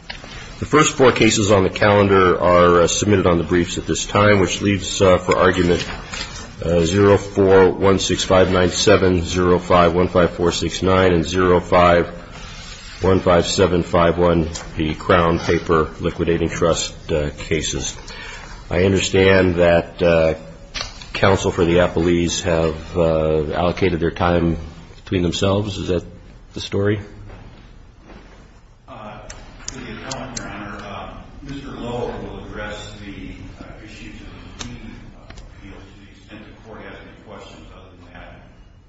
The first four cases on the calendar are submitted on the briefs at this time, which leaves for argument 04-1659-705-15469 and 05-15751, the Crown Paper Liquidating Trust cases. I understand that counsel for the Appellees have allocated their time between themselves. Is that the story? With your comment, Your Honor, Mr. Lower will address the issues of repeated appeals to the extent the Court has any questions. Other than that,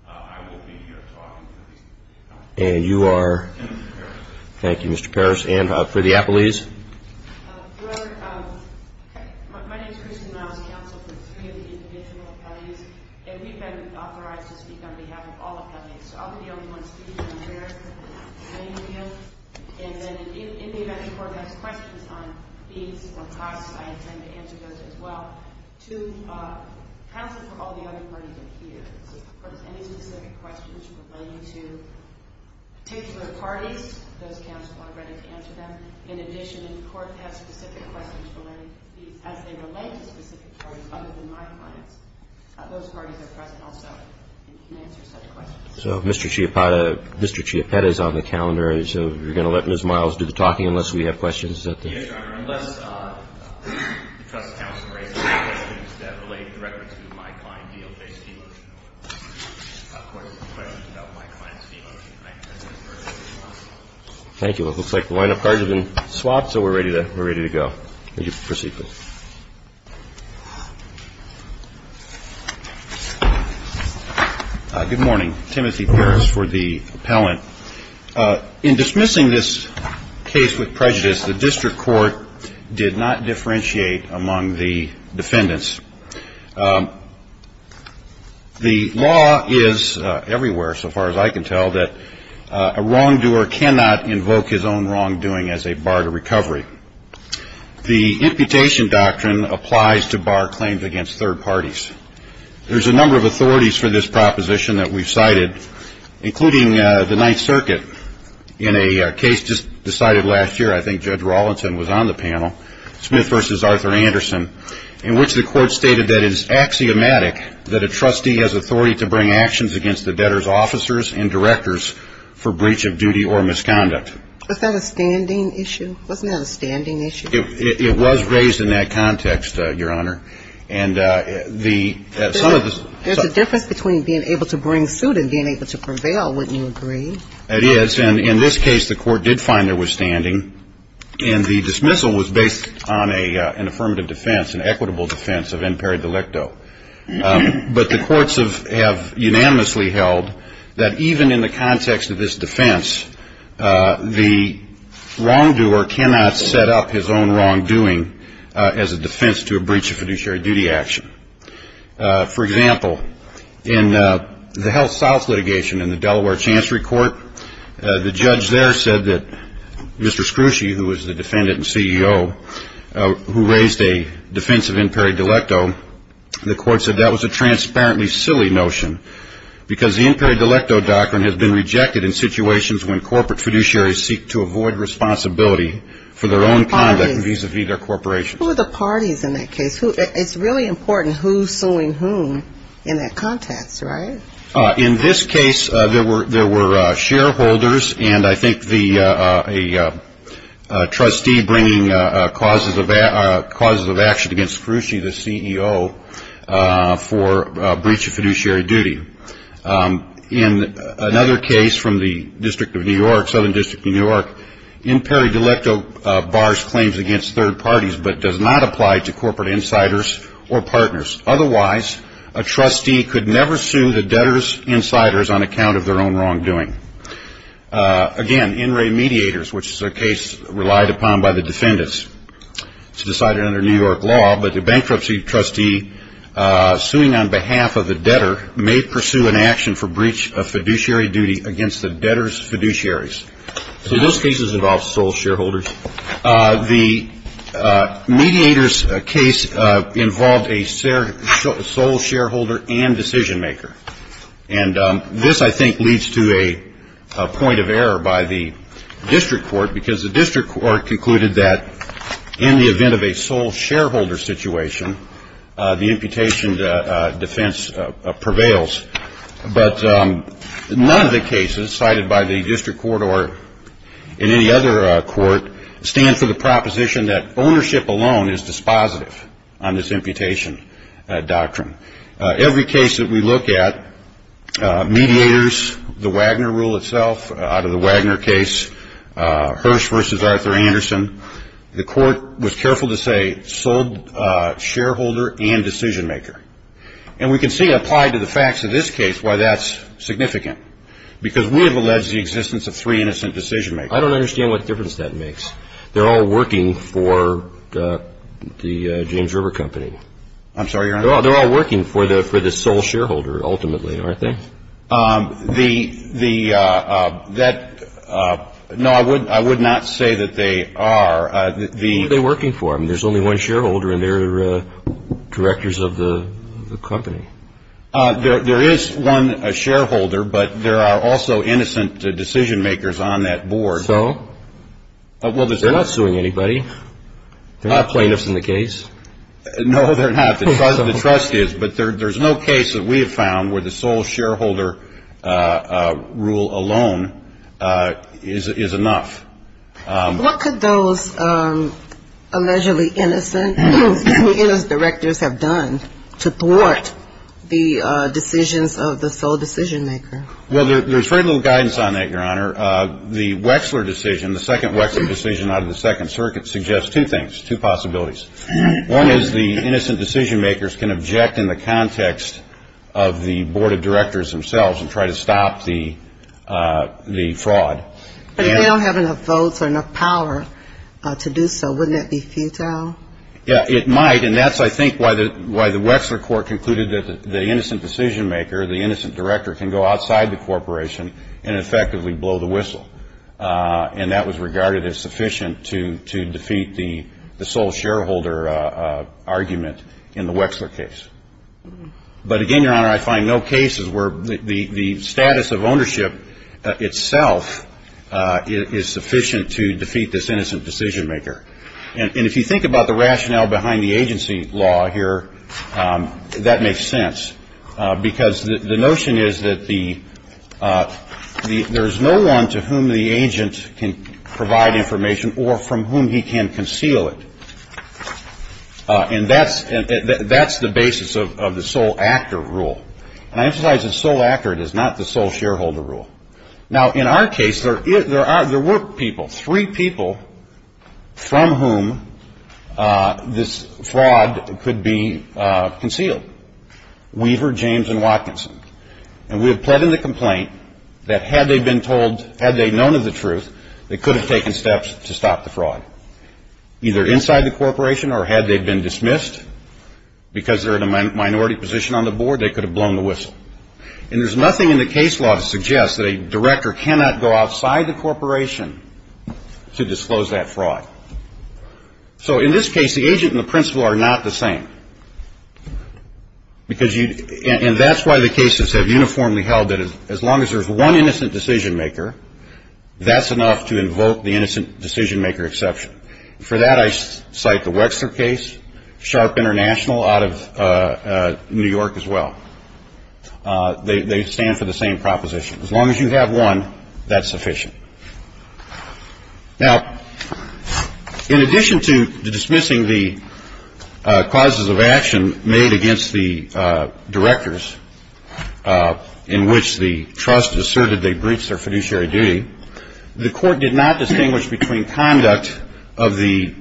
I will be here talking to the appellees. And you are? And Mr. Parrish. Thank you, Mr. Parrish. And for the Appellees? Your Honor, my name is Kirsten Miles, counsel for three of the individual appellees. And we've been authorized to speak on behalf of all appellees. So I'll be the only one speaking here. And then in the event the Court has questions on fees or costs, I intend to answer those as well. Counsel for all the other parties are here. So if there's any specific questions relating to particular parties, those counsels are ready to answer them. In addition, if the Court has specific questions relating to fees as they relate to specific parties other than my clients, those parties are present also and can answer such questions. So if Mr. Chiappetta is on the calendar, you're going to let Ms. Miles do the talking unless we have questions at the end? Yes, Your Honor, unless the trust counsel raises questions that relate directly to my client deal-based fee loan. Of course, if there's questions about my client's fee loan, I can address those directly to counsel. Thank you. Well, it looks like the lineup cards have been swapped, so we're ready to go. Thank you. Proceed, please. Good morning. Timothy Pierce for the appellant. In dismissing this case with prejudice, the district court did not differentiate among the defendants. The law is everywhere, so far as I can tell, that a wrongdoer cannot invoke his own wrongdoing as a bar to recovery. The imputation doctrine applies to bar claims against third parties. There's a number of authorities for this proposition that we've cited, including the Ninth Circuit. In a case just decided last year, I think Judge Rawlinson was on the panel, Smith v. Arthur Anderson, in which the court stated that it is axiomatic that a trustee has authority to bring actions against the debtor's officers and directors for breach of duty or misconduct. Was that a standing issue? Wasn't that a standing issue? It was raised in that context, Your Honor. And the ‑‑ There's a difference between being able to bring suit and being able to prevail, wouldn't you agree? It is. And in this case, the court did find there was standing. And the dismissal was based on an affirmative defense, an equitable defense of imperi delicto. But the courts have unanimously held that even in the context of this defense, the wrongdoer cannot set up his own wrongdoing as a defense to a breach of fiduciary duty action. For example, in the Health South litigation in the Delaware Chancery Court, the judge there said that Mr. Scrooge, who was the defendant and CEO, who raised a defense of imperi delicto, the court said that was a transparently silly notion, because the imperi delicto doctrine has been rejected in situations when corporate fiduciaries seek to avoid responsibility for their own conduct vis‑a‑vis their corporations. Who are the parties in that case? It's really important who's suing whom in that context, right? In this case, there were shareholders and I think the trustee bringing causes of action against Scrooge, the CEO, for breach of fiduciary duty. In another case from the District of New York, Southern District of New York, imperi delicto bars claims against third parties but does not apply to corporate insiders or partners. Otherwise, a trustee could never sue the debtor's insiders on account of their own wrongdoing. Again, in remediators, which is a case relied upon by the defendants. It's decided under New York law, but the bankruptcy trustee suing on behalf of the debtor may pursue an action for breach of fiduciary duty against the debtor's fiduciaries. So those cases involve sole shareholders. The mediators case involved a sole shareholder and decision maker. And this, I think, leads to a point of error by the district court because the district court concluded that in the event of a sole shareholder situation, the imputation defense prevails. But none of the cases cited by the district court or in any other court stand for the proposition that ownership alone is dispositive on this imputation doctrine. Every case that we look at, mediators, the Wagner rule itself, out of the Wagner case, Hirsch versus Arthur Anderson, the court was careful to say sole shareholder and decision maker. And we can see it applied to the facts of this case why that's significant because we have alleged the existence of three innocent decision makers. I don't understand what difference that makes. They're all working for the James River Company. I'm sorry, Your Honor? They're all working for the sole shareholder, ultimately, aren't they? No, I would not say that they are. Who are they working for? I mean, there's only one shareholder, and they're directors of the company. There is one shareholder, but there are also innocent decision makers on that board. So? They're not suing anybody. They're not plaintiffs in the case. No, they're not. But there's no case that we have found where the sole shareholder rule alone is enough. What could those allegedly innocent directors have done to thwart the decisions of the sole decision maker? Well, there's very little guidance on that, Your Honor. The Wexler decision, the second Wexler decision out of the Second Circuit, suggests two things, two possibilities. One is the innocent decision makers can object in the context of the board of directors themselves and try to stop the fraud. But if they don't have enough votes or enough power to do so, wouldn't that be futile? Yeah, it might, and that's, I think, why the Wexler court concluded that the innocent decision maker, the innocent director, can go outside the corporation and effectively blow the whistle. And that was regarded as sufficient to defeat the sole shareholder argument in the Wexler case. But again, Your Honor, I find no cases where the status of ownership itself is sufficient to defeat this innocent decision maker. And if you think about the rationale behind the agency law here, that makes sense, because the notion is that there is no one to whom the agent can provide information or from whom he can conceal it. And that's the basis of the sole actor rule. And I emphasize the sole actor. It is not the sole shareholder rule. Now, in our case, there were people, three people, from whom this fraud could be concealed. Weaver, James, and Watkinson. And we have pled in the complaint that had they known of the truth, they could have taken steps to stop the fraud, either inside the corporation or had they been dismissed because they're in a minority position on the board, they could have blown the whistle. And there's nothing in the case law to suggest that a director cannot go outside the corporation to disclose that fraud. So in this case, the agent and the principal are not the same. And that's why the cases have uniformly held that as long as there's one innocent decision maker, that's enough to invoke the innocent decision maker exception. For that, I cite the Wexner case, Sharp International out of New York as well. They stand for the same proposition. As long as you have one, that's sufficient. Now, in addition to dismissing the causes of action made against the directors in which the trust asserted they breached their fiduciary duty, the court did not distinguish between conduct of the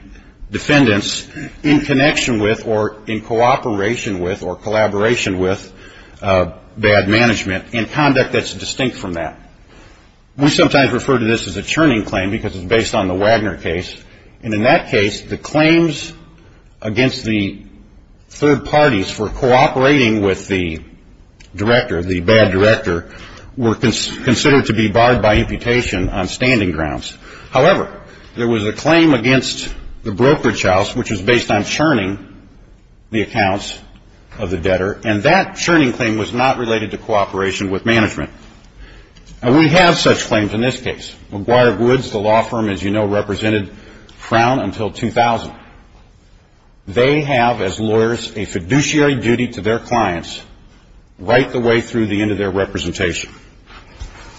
defendants in connection with or in cooperation with or collaboration with bad management and conduct that's distinct from that. We sometimes refer to this as a churning claim because it's based on the Wagner case. And in that case, the claims against the third parties for cooperating with the director, the bad director, were considered to be barred by imputation on standing grounds. However, there was a claim against the brokerage house, which was based on churning the accounts of the debtor, and that churning claim was not related to cooperation with management. Now, we have such claims in this case. McGuire Woods, the law firm, as you know, represented Crown until 2000. They have, as lawyers, a fiduciary duty to their clients right the way through the end of their representation.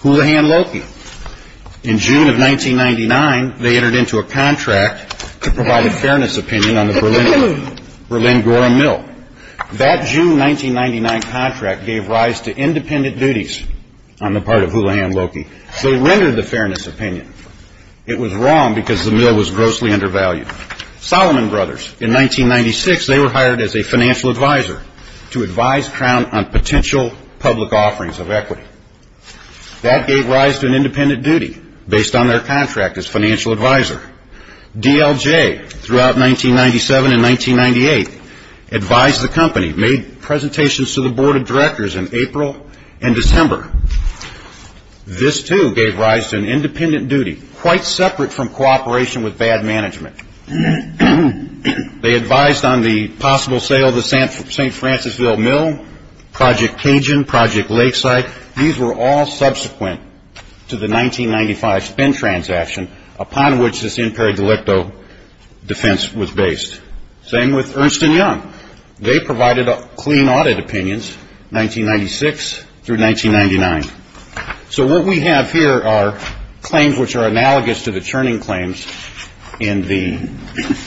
Houlihan Loki. In June of 1999, they entered into a contract to provide a fairness opinion on the Berlin Gorham Mill. That June 1999 contract gave rise to independent duties on the part of Houlihan Loki. They rendered the fairness opinion. It was wrong because the mill was grossly undervalued. Solomon Brothers, in 1996, they were hired as a financial advisor to advise Crown on potential public offerings of equity. That gave rise to an independent duty based on their contract as financial advisor. DLJ, throughout 1997 and 1998, advised the company, made presentations to the board of directors in April and December. This, too, gave rise to an independent duty quite separate from cooperation with bad management. They advised on the possible sale of the St. Francisville Mill, Project Cajun, Project Lakeside. These were all subsequent to the 1995 spend transaction upon which this imperio delicto defense was based. Same with Ernst & Young. They provided clean audit opinions, 1996 through 1999. So what we have here are claims which are analogous to the churning claims in the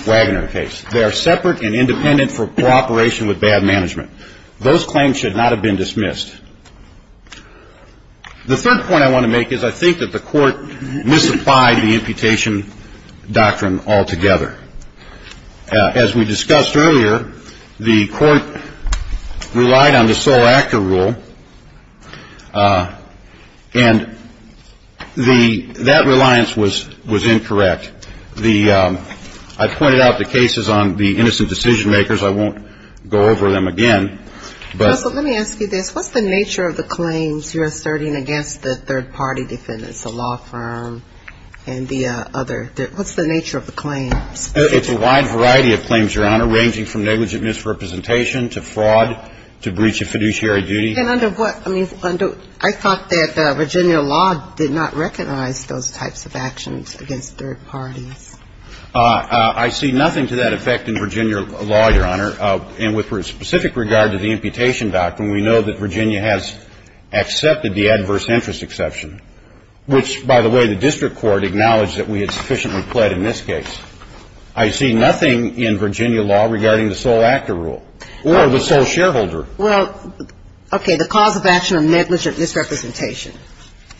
Wagner case. They are separate and independent for cooperation with bad management. Those claims should not have been dismissed. The third point I want to make is I think that the court misapplied the imputation doctrine altogether. As we discussed earlier, the court relied on the sole actor rule, and that reliance was incorrect. I've pointed out the cases on the innocent decision-makers. I won't go over them again. But let me ask you this. What's the nature of the claims you're asserting against the third-party defendants, the law firm and the other? What's the nature of the claims? It's a wide variety of claims, Your Honor, ranging from negligent misrepresentation to fraud to breach of fiduciary duty. I thought that Virginia law did not recognize those types of actions against third parties. I see nothing to that effect in Virginia law, Your Honor. And with specific regard to the imputation doctrine, we know that Virginia has accepted the adverse interest exception, which, by the way, the district court acknowledged that we had sufficiently pled in this case. I see nothing in Virginia law regarding the sole actor rule or the sole shareholder. Well, okay, the cause of action of negligent misrepresentation.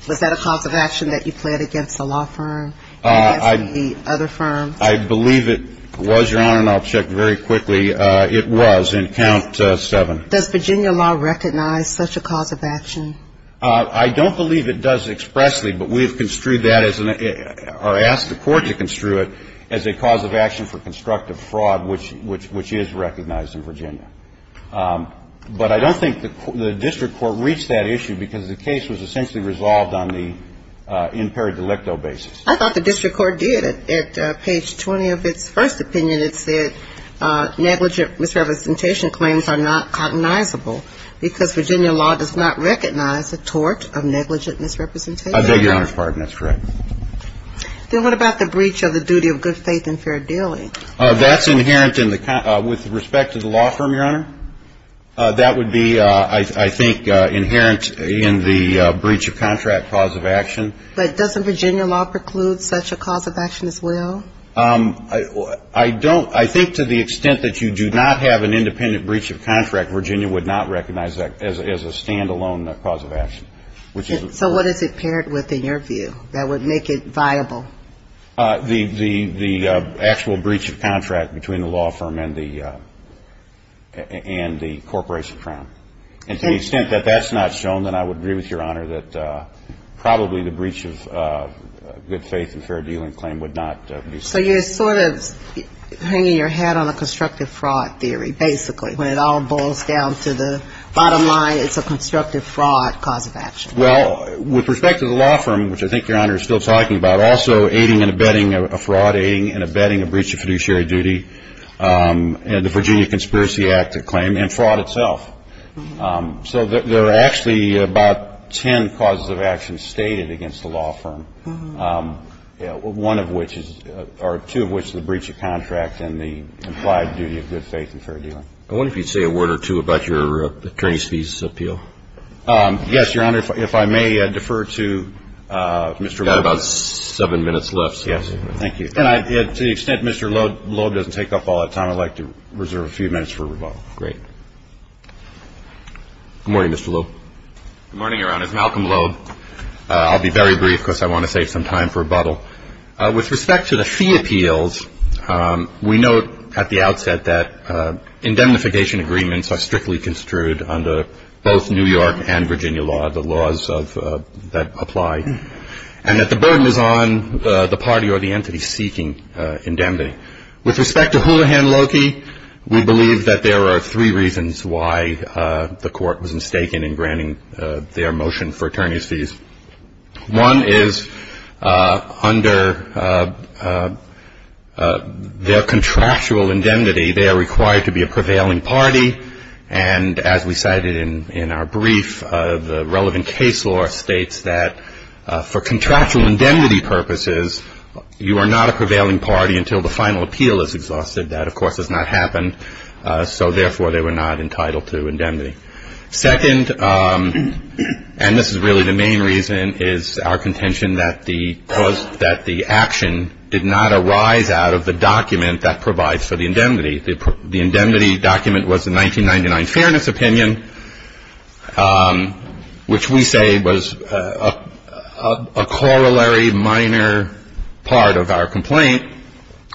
Was that a cause of action that you pled against the law firm and against the other firms? I believe it was, Your Honor, and I'll check very quickly. It was in count seven. Does Virginia law recognize such a cause of action? I don't believe it does expressly, but we've construed that as an or asked the court to construe it as a cause of action for constructive fraud, which is recognized in Virginia. But I don't think the district court reached that issue because the case was essentially resolved on the in per delicto basis. I thought the district court did. At page 20 of its first opinion, it said negligent misrepresentation claims are not cognizable because Virginia law does not recognize the tort of negligent misrepresentation. I beg Your Honor's pardon. That's correct. Then what about the breach of the duty of good faith and fair dealing? That's inherent with respect to the law firm, Your Honor. That would be, I think, inherent in the breach of contract cause of action. But doesn't Virginia law preclude such a cause of action as well? I don't. I think to the extent that you do not have an independent breach of contract, Virginia would not recognize that as a stand-alone cause of action. So what is it paired with in your view that would make it viable? The actual breach of contract between the law firm and the corporation crown. And to the extent that that's not shown, then I would agree with Your Honor that probably the breach of good faith and fair dealing claim would not be seen. So you're sort of hanging your hat on a constructive fraud theory, basically. When it all boils down to the bottom line, it's a constructive fraud cause of action. Well, with respect to the law firm, which I think Your Honor is still talking about, also aiding and abetting a fraud, aiding and abetting a breach of fiduciary duty, and the Virginia Conspiracy Act claim, and fraud itself. So there are actually about ten causes of action stated against the law firm, one of which is or two of which is the breach of contract and the implied duty of good faith and fair dealing. I wonder if you'd say a word or two about your attorney's thesis appeal. Yes, Your Honor. If I may defer to Mr. Loeb. You've got about seven minutes left. Yes. Thank you. And to the extent Mr. Loeb doesn't take up all that time, I'd like to reserve a few minutes for rebuttal. Great. Good morning, Mr. Loeb. Good morning, Your Honor. It's Malcolm Loeb. I'll be very brief because I want to save some time for rebuttal. With respect to the fee appeals, we note at the outset that indemnification agreements are strictly construed under both New York and Virginia law, the laws that apply, and that the burden is on the party or the entity seeking indemnity. With respect to Houlihan Loki, we believe that there are three reasons why the court was mistaken in granting their motion for attorney's fees. One is under their contractual indemnity, they are required to be a prevailing party, and as we cited in our brief, the relevant case law states that for contractual indemnity purposes, you are not a prevailing party until the final appeal is exhausted. That, of course, has not happened, so therefore they were not entitled to indemnity. Second, and this is really the main reason, is our contention that the action did not arise out of the document that provides for the indemnity. The indemnity document was the 1999 Fairness Opinion, which we say was a corollary, minor part of our complaint,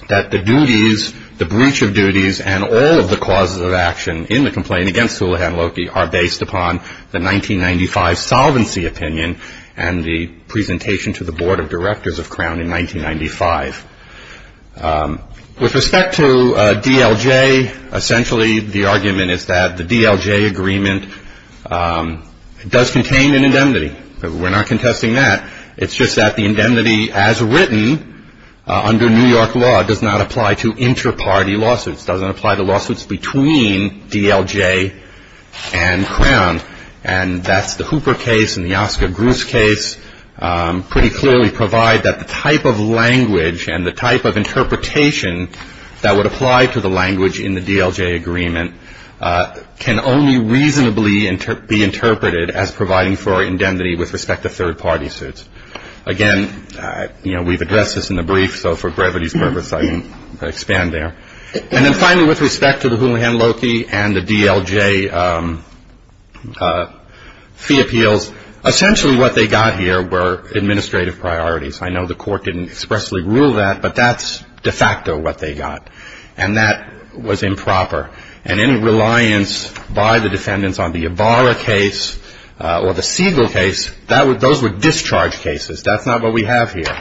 that the duties, the breach of duties, and all of the causes of action in the complaint against Houlihan Loki are based upon the 1995 Solvency Opinion and the presentation to the Board of Directors of Crown in 1995. With respect to DLJ, essentially the argument is that the DLJ agreement does contain an indemnity. We're not contesting that. It's just that the indemnity as written under New York law does not apply to inter-party lawsuits, doesn't apply to lawsuits between DLJ and Crown, and that's the Hooper case and the Oscar Gruss case pretty clearly provide that the type of language and the type of interpretation that would apply to the language in the DLJ agreement can only reasonably be interpreted as providing for indemnity with respect to third-party suits. Again, you know, we've addressed this in the brief, so for brevity's purpose I can expand there. And then finally, with respect to the Houlihan Loki and the DLJ fee appeals, essentially what they got here were administrative priorities. I know the Court didn't expressly rule that, but that's de facto what they got, and that was improper. And any reliance by the defendants on the Ibarra case or the Siegel case, those were discharge cases. That's not what we have here.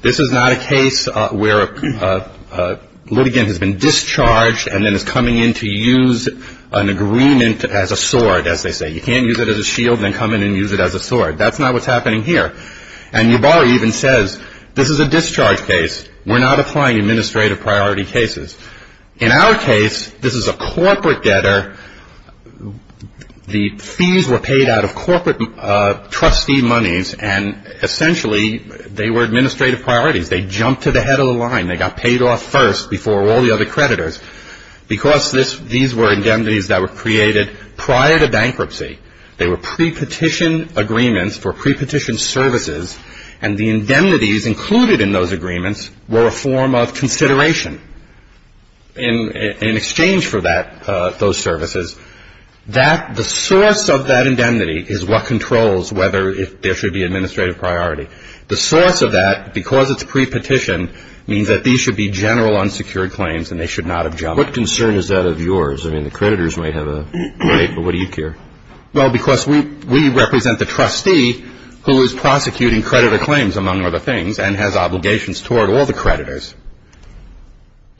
This is not a case where a litigant has been discharged and then is coming in to use an agreement as a sword, as they say. You can't use it as a shield and then come in and use it as a sword. That's not what's happening here. And Ibarra even says this is a discharge case. We're not applying administrative priority cases. In our case, this is a corporate debtor. The fees were paid out of corporate trustee monies, and essentially they were administrative priorities. They jumped to the head of the line. They got paid off first before all the other creditors. Because these were indemnities that were created prior to bankruptcy, they were pre-petition agreements for pre-petition services, and the indemnities included in those agreements were a form of consideration in exchange for those services. The source of that indemnity is what controls whether there should be administrative priority. The source of that, because it's pre-petition, means that these should be general unsecured claims and they should not have jumped. What concern is that of yours? I mean, the creditors might have a right, but what do you care? Well, because we represent the trustee who is prosecuting creditor claims, among other things, and has obligations toward all the creditors.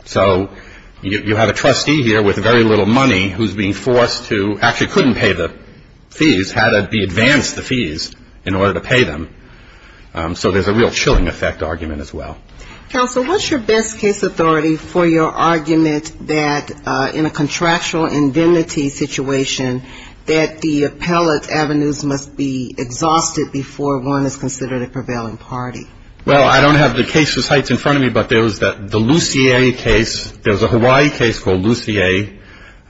So you have a trustee here with very little money who's being forced to actually couldn't pay the fees, had to be advanced the fees in order to pay them. So there's a real chilling effect argument as well. Counsel, what's your best case authority for your argument that in a contractual indemnity situation, that the appellate avenues must be exhausted before one is considered a prevailing party? Well, I don't have the cases heights in front of me, but there was the Lucier case. There was a Hawaii case called Lucier,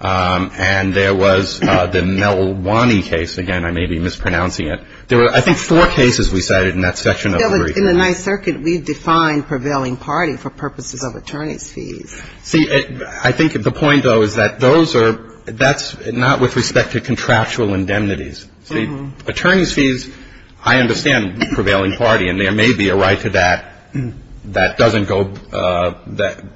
and there was the Melwani case. Again, I may be mispronouncing it. There were, I think, four cases we cited in that section of the brief. In the Ninth Circuit, we define prevailing party for purposes of attorney's fees. See, I think the point, though, is that those are – that's not with respect to contractual indemnities. See, attorney's fees, I understand prevailing party, and there may be a right to that that doesn't go –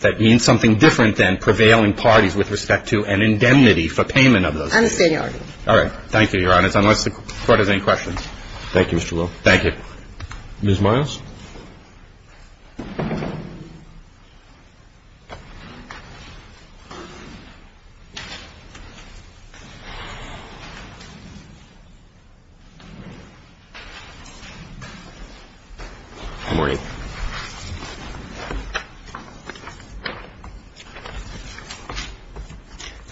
that means something different than prevailing parties with respect to an indemnity for payment of those fees. I understand your argument. All right. Thank you, Your Honor, unless the Court has any questions. Thank you, Mr. Will. Thank you. Ms. Miles.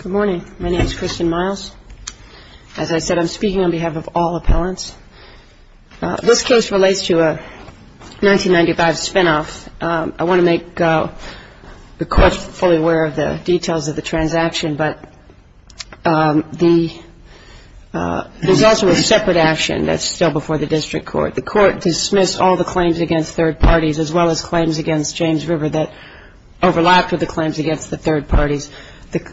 Good morning. Good morning. My name is Kristen Miles. As I said, I'm speaking on behalf of all appellants. This case relates to a 1995 spinoff. I want to make the Court fully aware of the details of the transaction, but the – there's also a separate action that's still before the district court. The court dismissed all the claims against third parties, as well as claims against James River that overlapped with the claims against the third parties.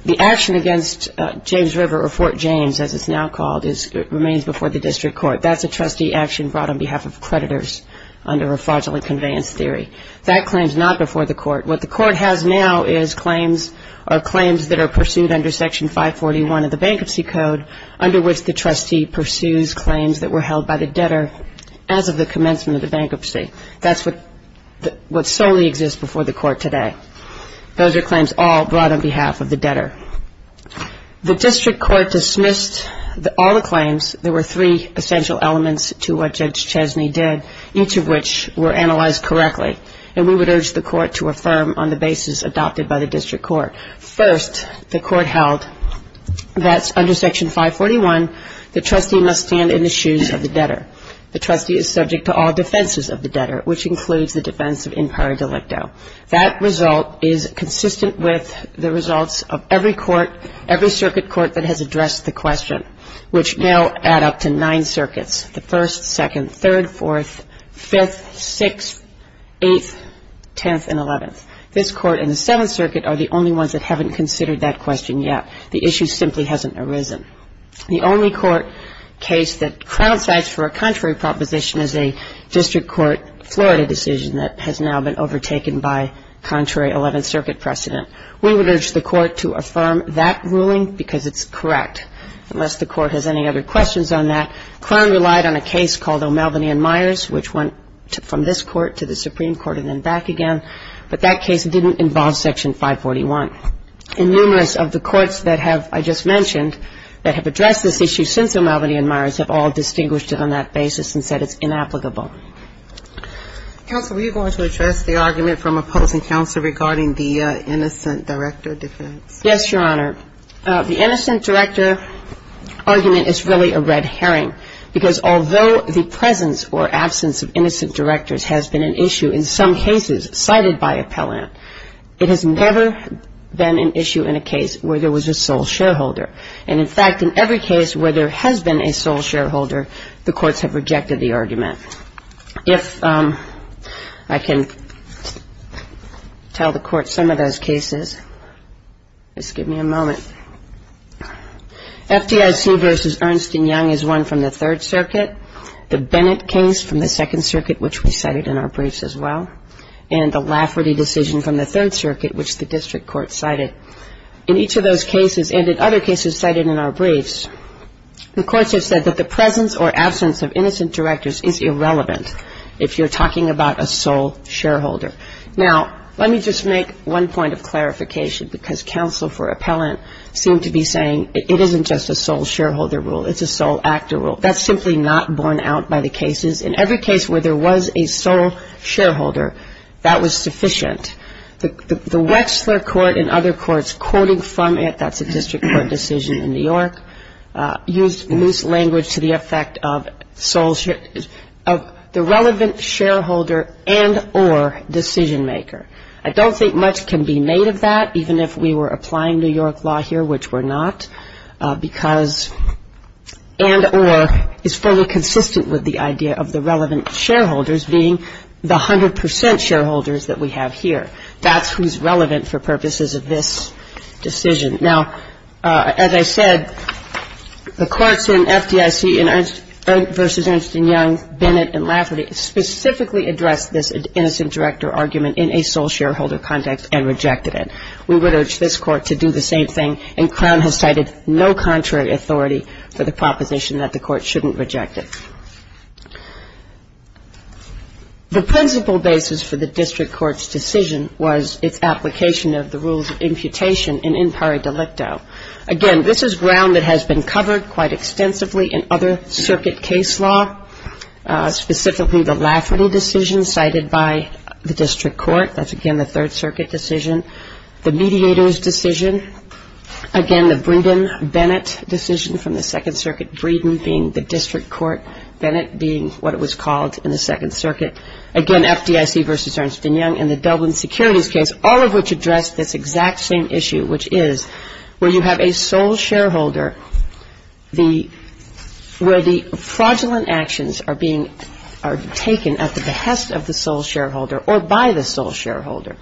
The action against James River or Fort James, as it's now called, remains before the district court. That's a trustee action brought on behalf of creditors under a fraudulent conveyance theory. That claim is not before the court. What the court has now is claims that are pursued under Section 541 of the Bankruptcy Code, under which the trustee pursues claims that were held by the debtor as of the commencement of the bankruptcy. That's what solely exists before the court today. Those are claims all brought on behalf of the debtor. The district court dismissed all the claims. There were three essential elements to what Judge Chesney did, each of which were analyzed correctly, and we would urge the court to affirm on the basis adopted by the district court. First, the court held that under Section 541, the trustee must stand in the shoes of the debtor. The trustee is subject to all defenses of the debtor, which includes the defense of in pari delicto. That result is consistent with the results of every court, every circuit court that has addressed the question, which now add up to nine circuits, the First, Second, Third, Fourth, Fifth, Sixth, Eighth, Tenth, and Eleventh. This court and the Seventh Circuit are the only ones that haven't considered that question yet. The issue simply hasn't arisen. The only court case that Crown cites for a contrary proposition is a district court Florida decision that has now been overtaken by contrary Eleventh Circuit precedent. We would urge the court to affirm that ruling because it's correct, unless the court has any other questions on that. Crown relied on a case called O'Melveny and Myers, which went from this court to the Supreme Court and then back again, but that case didn't involve Section 541. And numerous of the courts that have, I just mentioned, that have addressed this issue since O'Melveny and Myers have all distinguished it on that basis and said it's inapplicable. Counsel, were you going to address the argument from opposing counsel regarding the innocent director defense? Yes, Your Honor. The innocent director argument is really a red herring because although the presence or absence of innocent directors has been an issue in some cases cited by appellant, it has never been an issue in a case where there was a sole shareholder. And, in fact, in every case where there has been a sole shareholder, the courts have rejected the argument. If I can tell the court some of those cases, just give me a moment. FDIC v. Ernst & Young is one from the Third Circuit. The Bennett case from the Second Circuit, which we cited in our briefs as well, and the Lafferty decision from the Third Circuit, which the district court cited. In each of those cases and in other cases cited in our briefs, the courts have said that the presence or absence of innocent directors is irrelevant if you're talking about a sole shareholder. Now, let me just make one point of clarification because counsel for appellant seem to be saying it isn't just a sole shareholder rule, it's a sole actor rule. That's simply not borne out by the cases. In every case where there was a sole shareholder, that was sufficient. The Wechsler court and other courts quoting from it, that's a district court decision in New York, used loose language to the effect of the relevant shareholder and or decision maker. I don't think much can be made of that, even if we were applying New York law here, which we're not, because and or is fully consistent with the idea of the relevant shareholders being the 100 percent shareholders that we have here. That's who's relevant for purposes of this decision. Now, as I said, the courts in FDIC versus Ernst & Young, Bennett and Lafferty, specifically addressed this innocent director argument in a sole shareholder context and rejected it. We would urge this court to do the same thing, and Crown has cited no contrary authority for the proposition that the court shouldn't reject it. The principle basis for the district court's decision was its application of the rules of imputation in impari delicto. Again, this is ground that has been covered quite extensively in other circuit case law, specifically the Lafferty decision cited by the district court. That's, again, the Third Circuit decision. The mediators' decision, again, the Breeden-Bennett decision from the Second Circuit, Breeden being the district court, Bennett being what it was called in the Second Circuit. Again, FDIC versus Ernst & Young in the Dublin securities case, all of which addressed this exact same issue, which is where you have a sole shareholder, where the fraudulent actions are being taken at the behest of the sole shareholder or by the sole shareholder,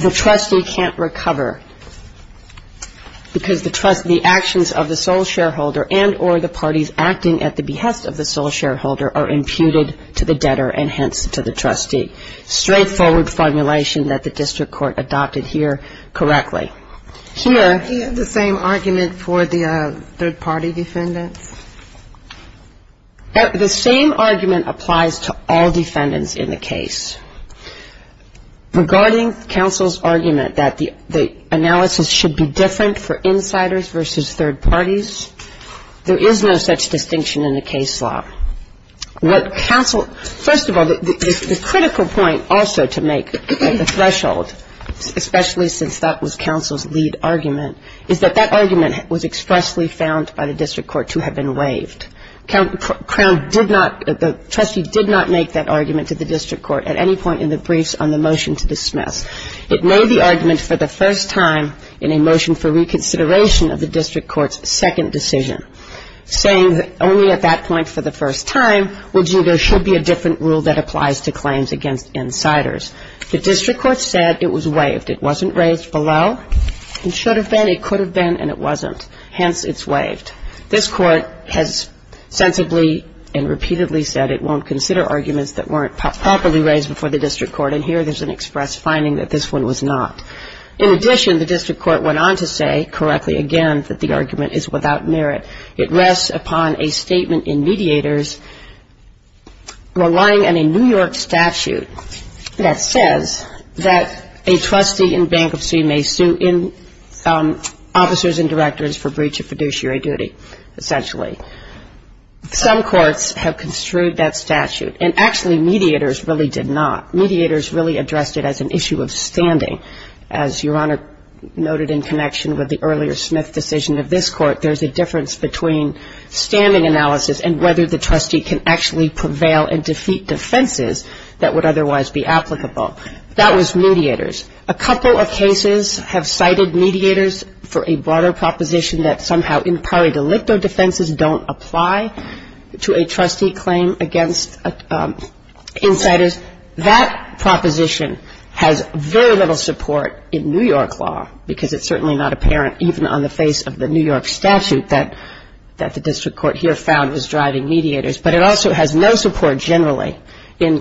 the trustee can't recover because the actions of the sole shareholder and or the parties acting at the behest of the sole shareholder are imputed to the debtor and hence to the trustee. Straightforward formulation that the district court adopted here correctly. Here Do you have the same argument for the third-party defendants? The same argument applies to all defendants in the case. Regarding counsel's argument that the analysis should be different for insiders versus third parties, there is no such distinction in the case law. What counsel, first of all, the critical point also to make at the threshold, especially since that was counsel's lead argument, is that that argument was expressly found by the district court to have been waived. Crown did not, the trustee did not make that argument to the district court at any point in the briefs on the motion to dismiss. It made the argument for the first time in a motion for reconsideration of the district court's second decision, saying that only at that point for the first time would you, there should be a different rule that applies to claims against insiders. The district court said it was waived. It wasn't raised below. It should have been, it could have been, and it wasn't. Hence, it's waived. This court has sensibly and repeatedly said it won't consider arguments that weren't properly raised before the district court, and here there's an express finding that this one was not. In addition, the district court went on to say correctly again that the argument is without merit. It rests upon a statement in mediators relying on a New York statute. That says that a trustee in bankruptcy may sue officers and directors for breach of fiduciary duty, essentially. Some courts have construed that statute, and actually mediators really did not. Mediators really addressed it as an issue of standing. As Your Honor noted in connection with the earlier Smith decision of this court, there's a difference between standing analysis and whether the trustee can actually prevail and defeat defenses that would otherwise be applicable. That was mediators. A couple of cases have cited mediators for a broader proposition that somehow impari delicto defenses don't apply to a trustee claim against insiders. That proposition has very little support in New York law, because it's certainly not apparent even on the face of the New York statute that the district court here found was driving mediators. But it also has no support generally in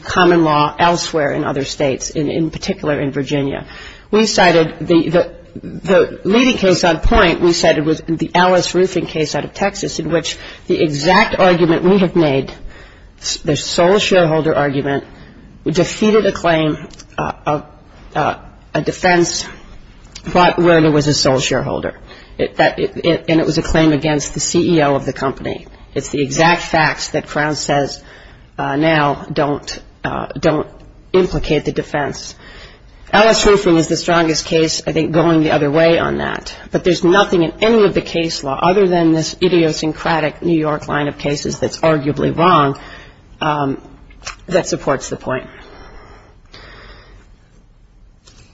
common law elsewhere in other states, in particular in Virginia. The leading case on point we cited was the Alice Roofing case out of Texas in which the exact argument we have made, the sole shareholder argument, defeated a claim, a defense, but where there was a sole shareholder. And it was a claim against the CEO of the company. It's the exact facts that Crown says now don't implicate the defense. Alice Roofing is the strongest case, I think, going the other way on that. But there's nothing in any of the case law, other than this idiosyncratic New York line of cases that's arguably wrong, that supports the point.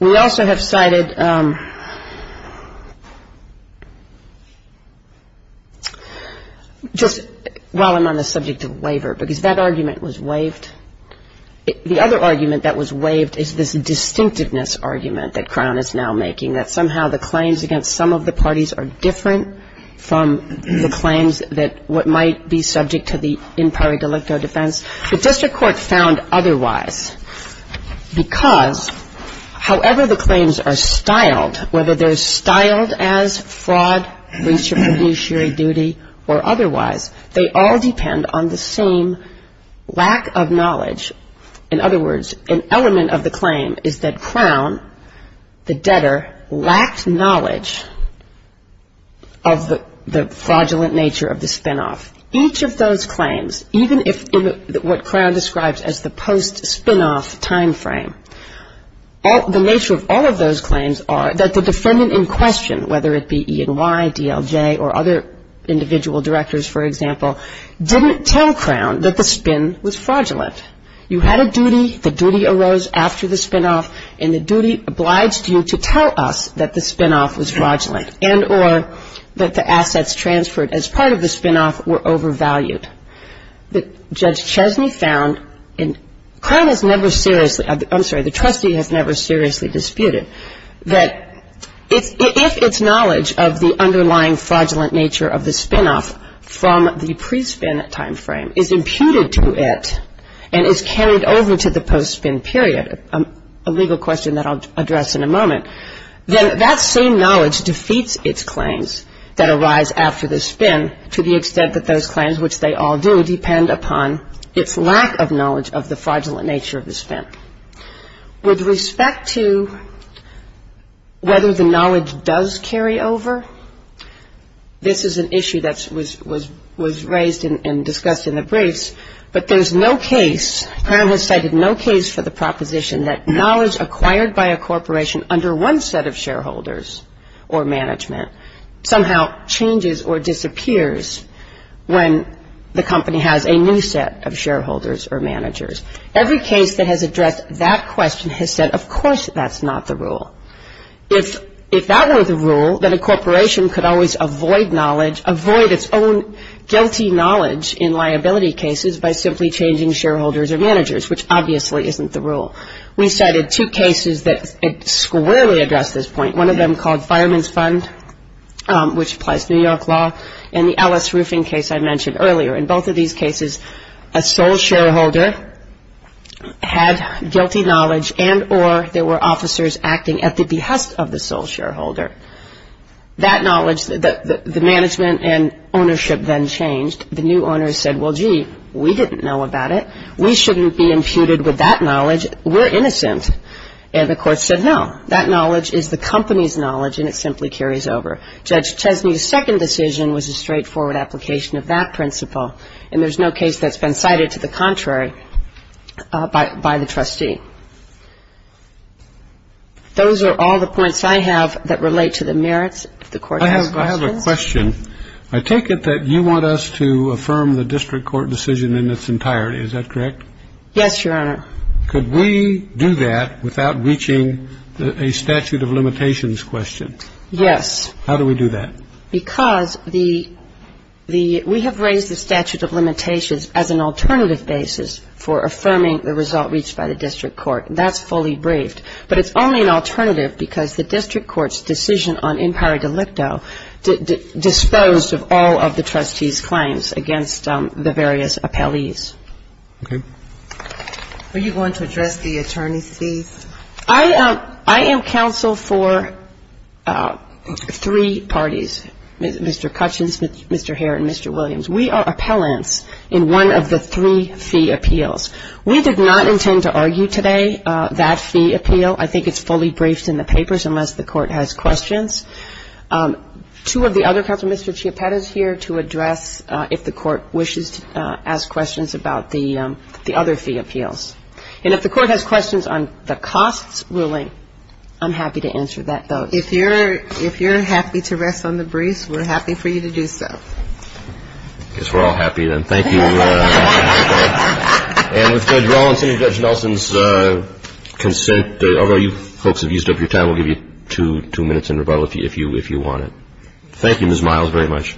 We also have cited, just while I'm on the subject of waiver, because that argument was waived. The other argument that was waived is this distinctiveness argument that Crown is now making, that somehow the claims against some of the parties are different from the claims that might be subject to the impari delicto defense. The district court found otherwise because however the claims are styled, whether they're styled as fraud, breach of fiduciary duty, or otherwise, they all depend on the same lack of knowledge. In other words, an element of the claim is that Crown, the debtor, lacked knowledge of the fraudulent nature of the spinoff. Each of those claims, even in what Crown describes as the post-spinoff time frame, the nature of all of those claims are that the defendant in question, whether it be E&Y, DLJ, or other individual directors, for example, didn't tell Crown that the spin was fraudulent. You had a duty, the duty arose after the spinoff, and the duty obliged you to tell us that the spinoff was fraudulent and or that the assets transferred as part of the spinoff were overvalued. Judge Chesney found, and Crown has never seriously, I'm sorry, the trustee has never seriously disputed that if its knowledge of the underlying fraudulent nature of the spinoff from the pre-spin time frame is imputed to it and is carried over to the post-spin period, a legal question that I'll address in a moment, then that same knowledge defeats its claims that arise after the spin to the extent that those claims, which they all do, depend upon its lack of knowledge of the fraudulent nature of the spin. With respect to whether the knowledge does carry over, this is an issue that was raised and discussed in the briefs, but there's no case, Crown has cited no case for the proposition that knowledge acquired by a corporation under one set of shareholders or management somehow changes or disappears when the company has a new set of shareholders or managers. Every case that has addressed that question has said, of course, that's not the rule. If that were the rule, then a corporation could always avoid knowledge, avoid its own guilty knowledge in liability cases by simply changing shareholders or managers, which obviously isn't the rule. We cited two cases that squarely addressed this point. One of them called Fireman's Fund, which applies to New York law, and the Ellis Roofing case I mentioned earlier. In both of these cases, a sole shareholder had guilty knowledge and or there were officers acting at the behest of the sole shareholder. That knowledge, the management and ownership then changed. The new owners said, well, gee, we didn't know about it. We shouldn't be imputed with that knowledge. We're innocent. And the court said, no, that knowledge is the company's knowledge, and it simply carries over. Judge Chesney's second decision was a straightforward application of that principle, and there's no case that's been cited to the contrary by the trustee. Those are all the points I have that relate to the merits of the court- I have a question. I take it that you want us to affirm the district court decision in its entirety. Is that correct? Yes, Your Honor. Could we do that without reaching a statute of limitations question? Yes. How do we do that? Because the we have raised the statute of limitations as an alternative basis for affirming the result reached by the district court. That's fully briefed. But it's only an alternative because the district court's decision on impari delicto disposed of all of the trustee's claims against the various appellees. Okay. Are you going to address the attorney's fees? I am counsel for three parties, Mr. Cutchins, Mr. Hare, and Mr. Williams. We are appellants in one of the three fee appeals. We did not intend to argue today that fee appeal. I think it's fully briefed in the papers unless the court has questions. Two of the other counsel, Mr. Chiappetta, is here to address if the court wishes to ask questions about the other fee appeals. And if the court has questions on the costs ruling, I'm happy to answer that vote. If you're happy to rest on the briefs, we're happy for you to do so. I guess we're all happy then. Thank you. And with Judge Rollins and Judge Nelson's consent, although you folks have used up your time, we'll give you two minutes in rebuttal if you want it. Thank you, Ms. Miles, very much.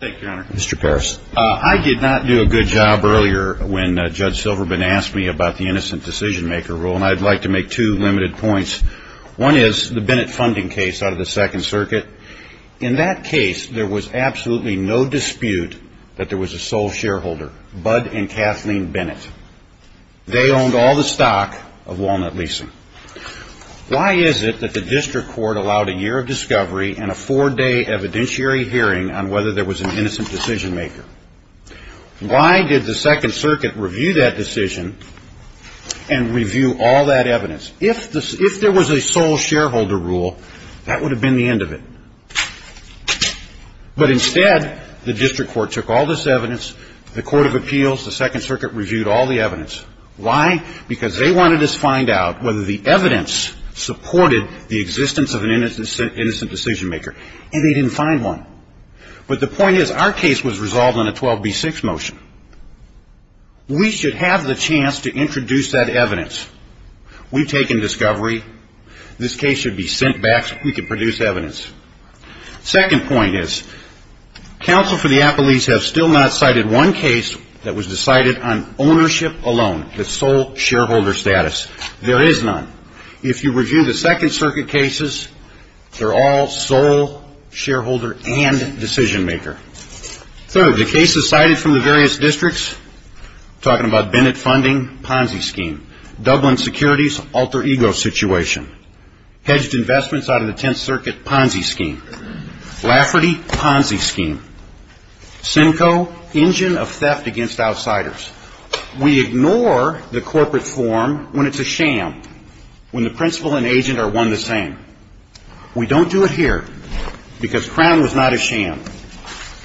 Thank you, Your Honor. Mr. Parris. I did not do a good job earlier when Judge Silverman asked me about the innocent decision-maker rule, and I'd like to make two limited points. One is the Bennett funding case out of the Second Circuit. In that case, there was absolutely no dispute that there was a sole shareholder, Bud and Kathleen Bennett. They owned all the stock of Walnut Leasing. Why is it that the district court allowed a year of discovery and a four-day evidentiary hearing on whether there was an innocent decision-maker? Why did the Second Circuit review that decision and review all that evidence? If there was a sole shareholder rule, that would have been the end of it. But instead, the district court took all this evidence, the Court of Appeals, the Second Circuit reviewed all the evidence. Why? Because they wanted us to find out whether the evidence supported the existence of an innocent decision-maker, and they didn't find one. But the point is, our case was resolved on a 12B6 motion. We should have the chance to introduce that evidence. We've taken discovery. This case should be sent back so we can produce evidence. Second point is, Counsel for the Appellees have still not cited one case that was decided on ownership alone, the sole shareholder status. There is none. If you review the Second Circuit cases, they're all sole shareholder and decision-maker. Third, the cases cited from the various districts, talking about Bennett funding, Ponzi scheme, Dublin securities alter-ego situation, hedged investments out of the Tenth Circuit Ponzi scheme, Lafferty Ponzi scheme, Simcoe, engine of theft against outsiders. We ignore the corporate form when it's a sham, when the principal and agent are one and the same. We don't do it here because Crown was not a sham.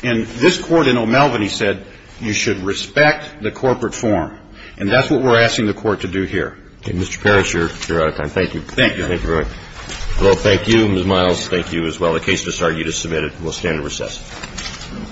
And this Court in O'Melveny said you should respect the corporate form, and that's what we're asking the Court to do here. Roberts. And, Mr. Parrish, you're out of time. Thank you. Thank you. Thank you very much. Well, thank you, Ms. Miles. Thank you as well. The case has started. We'll stand in recess.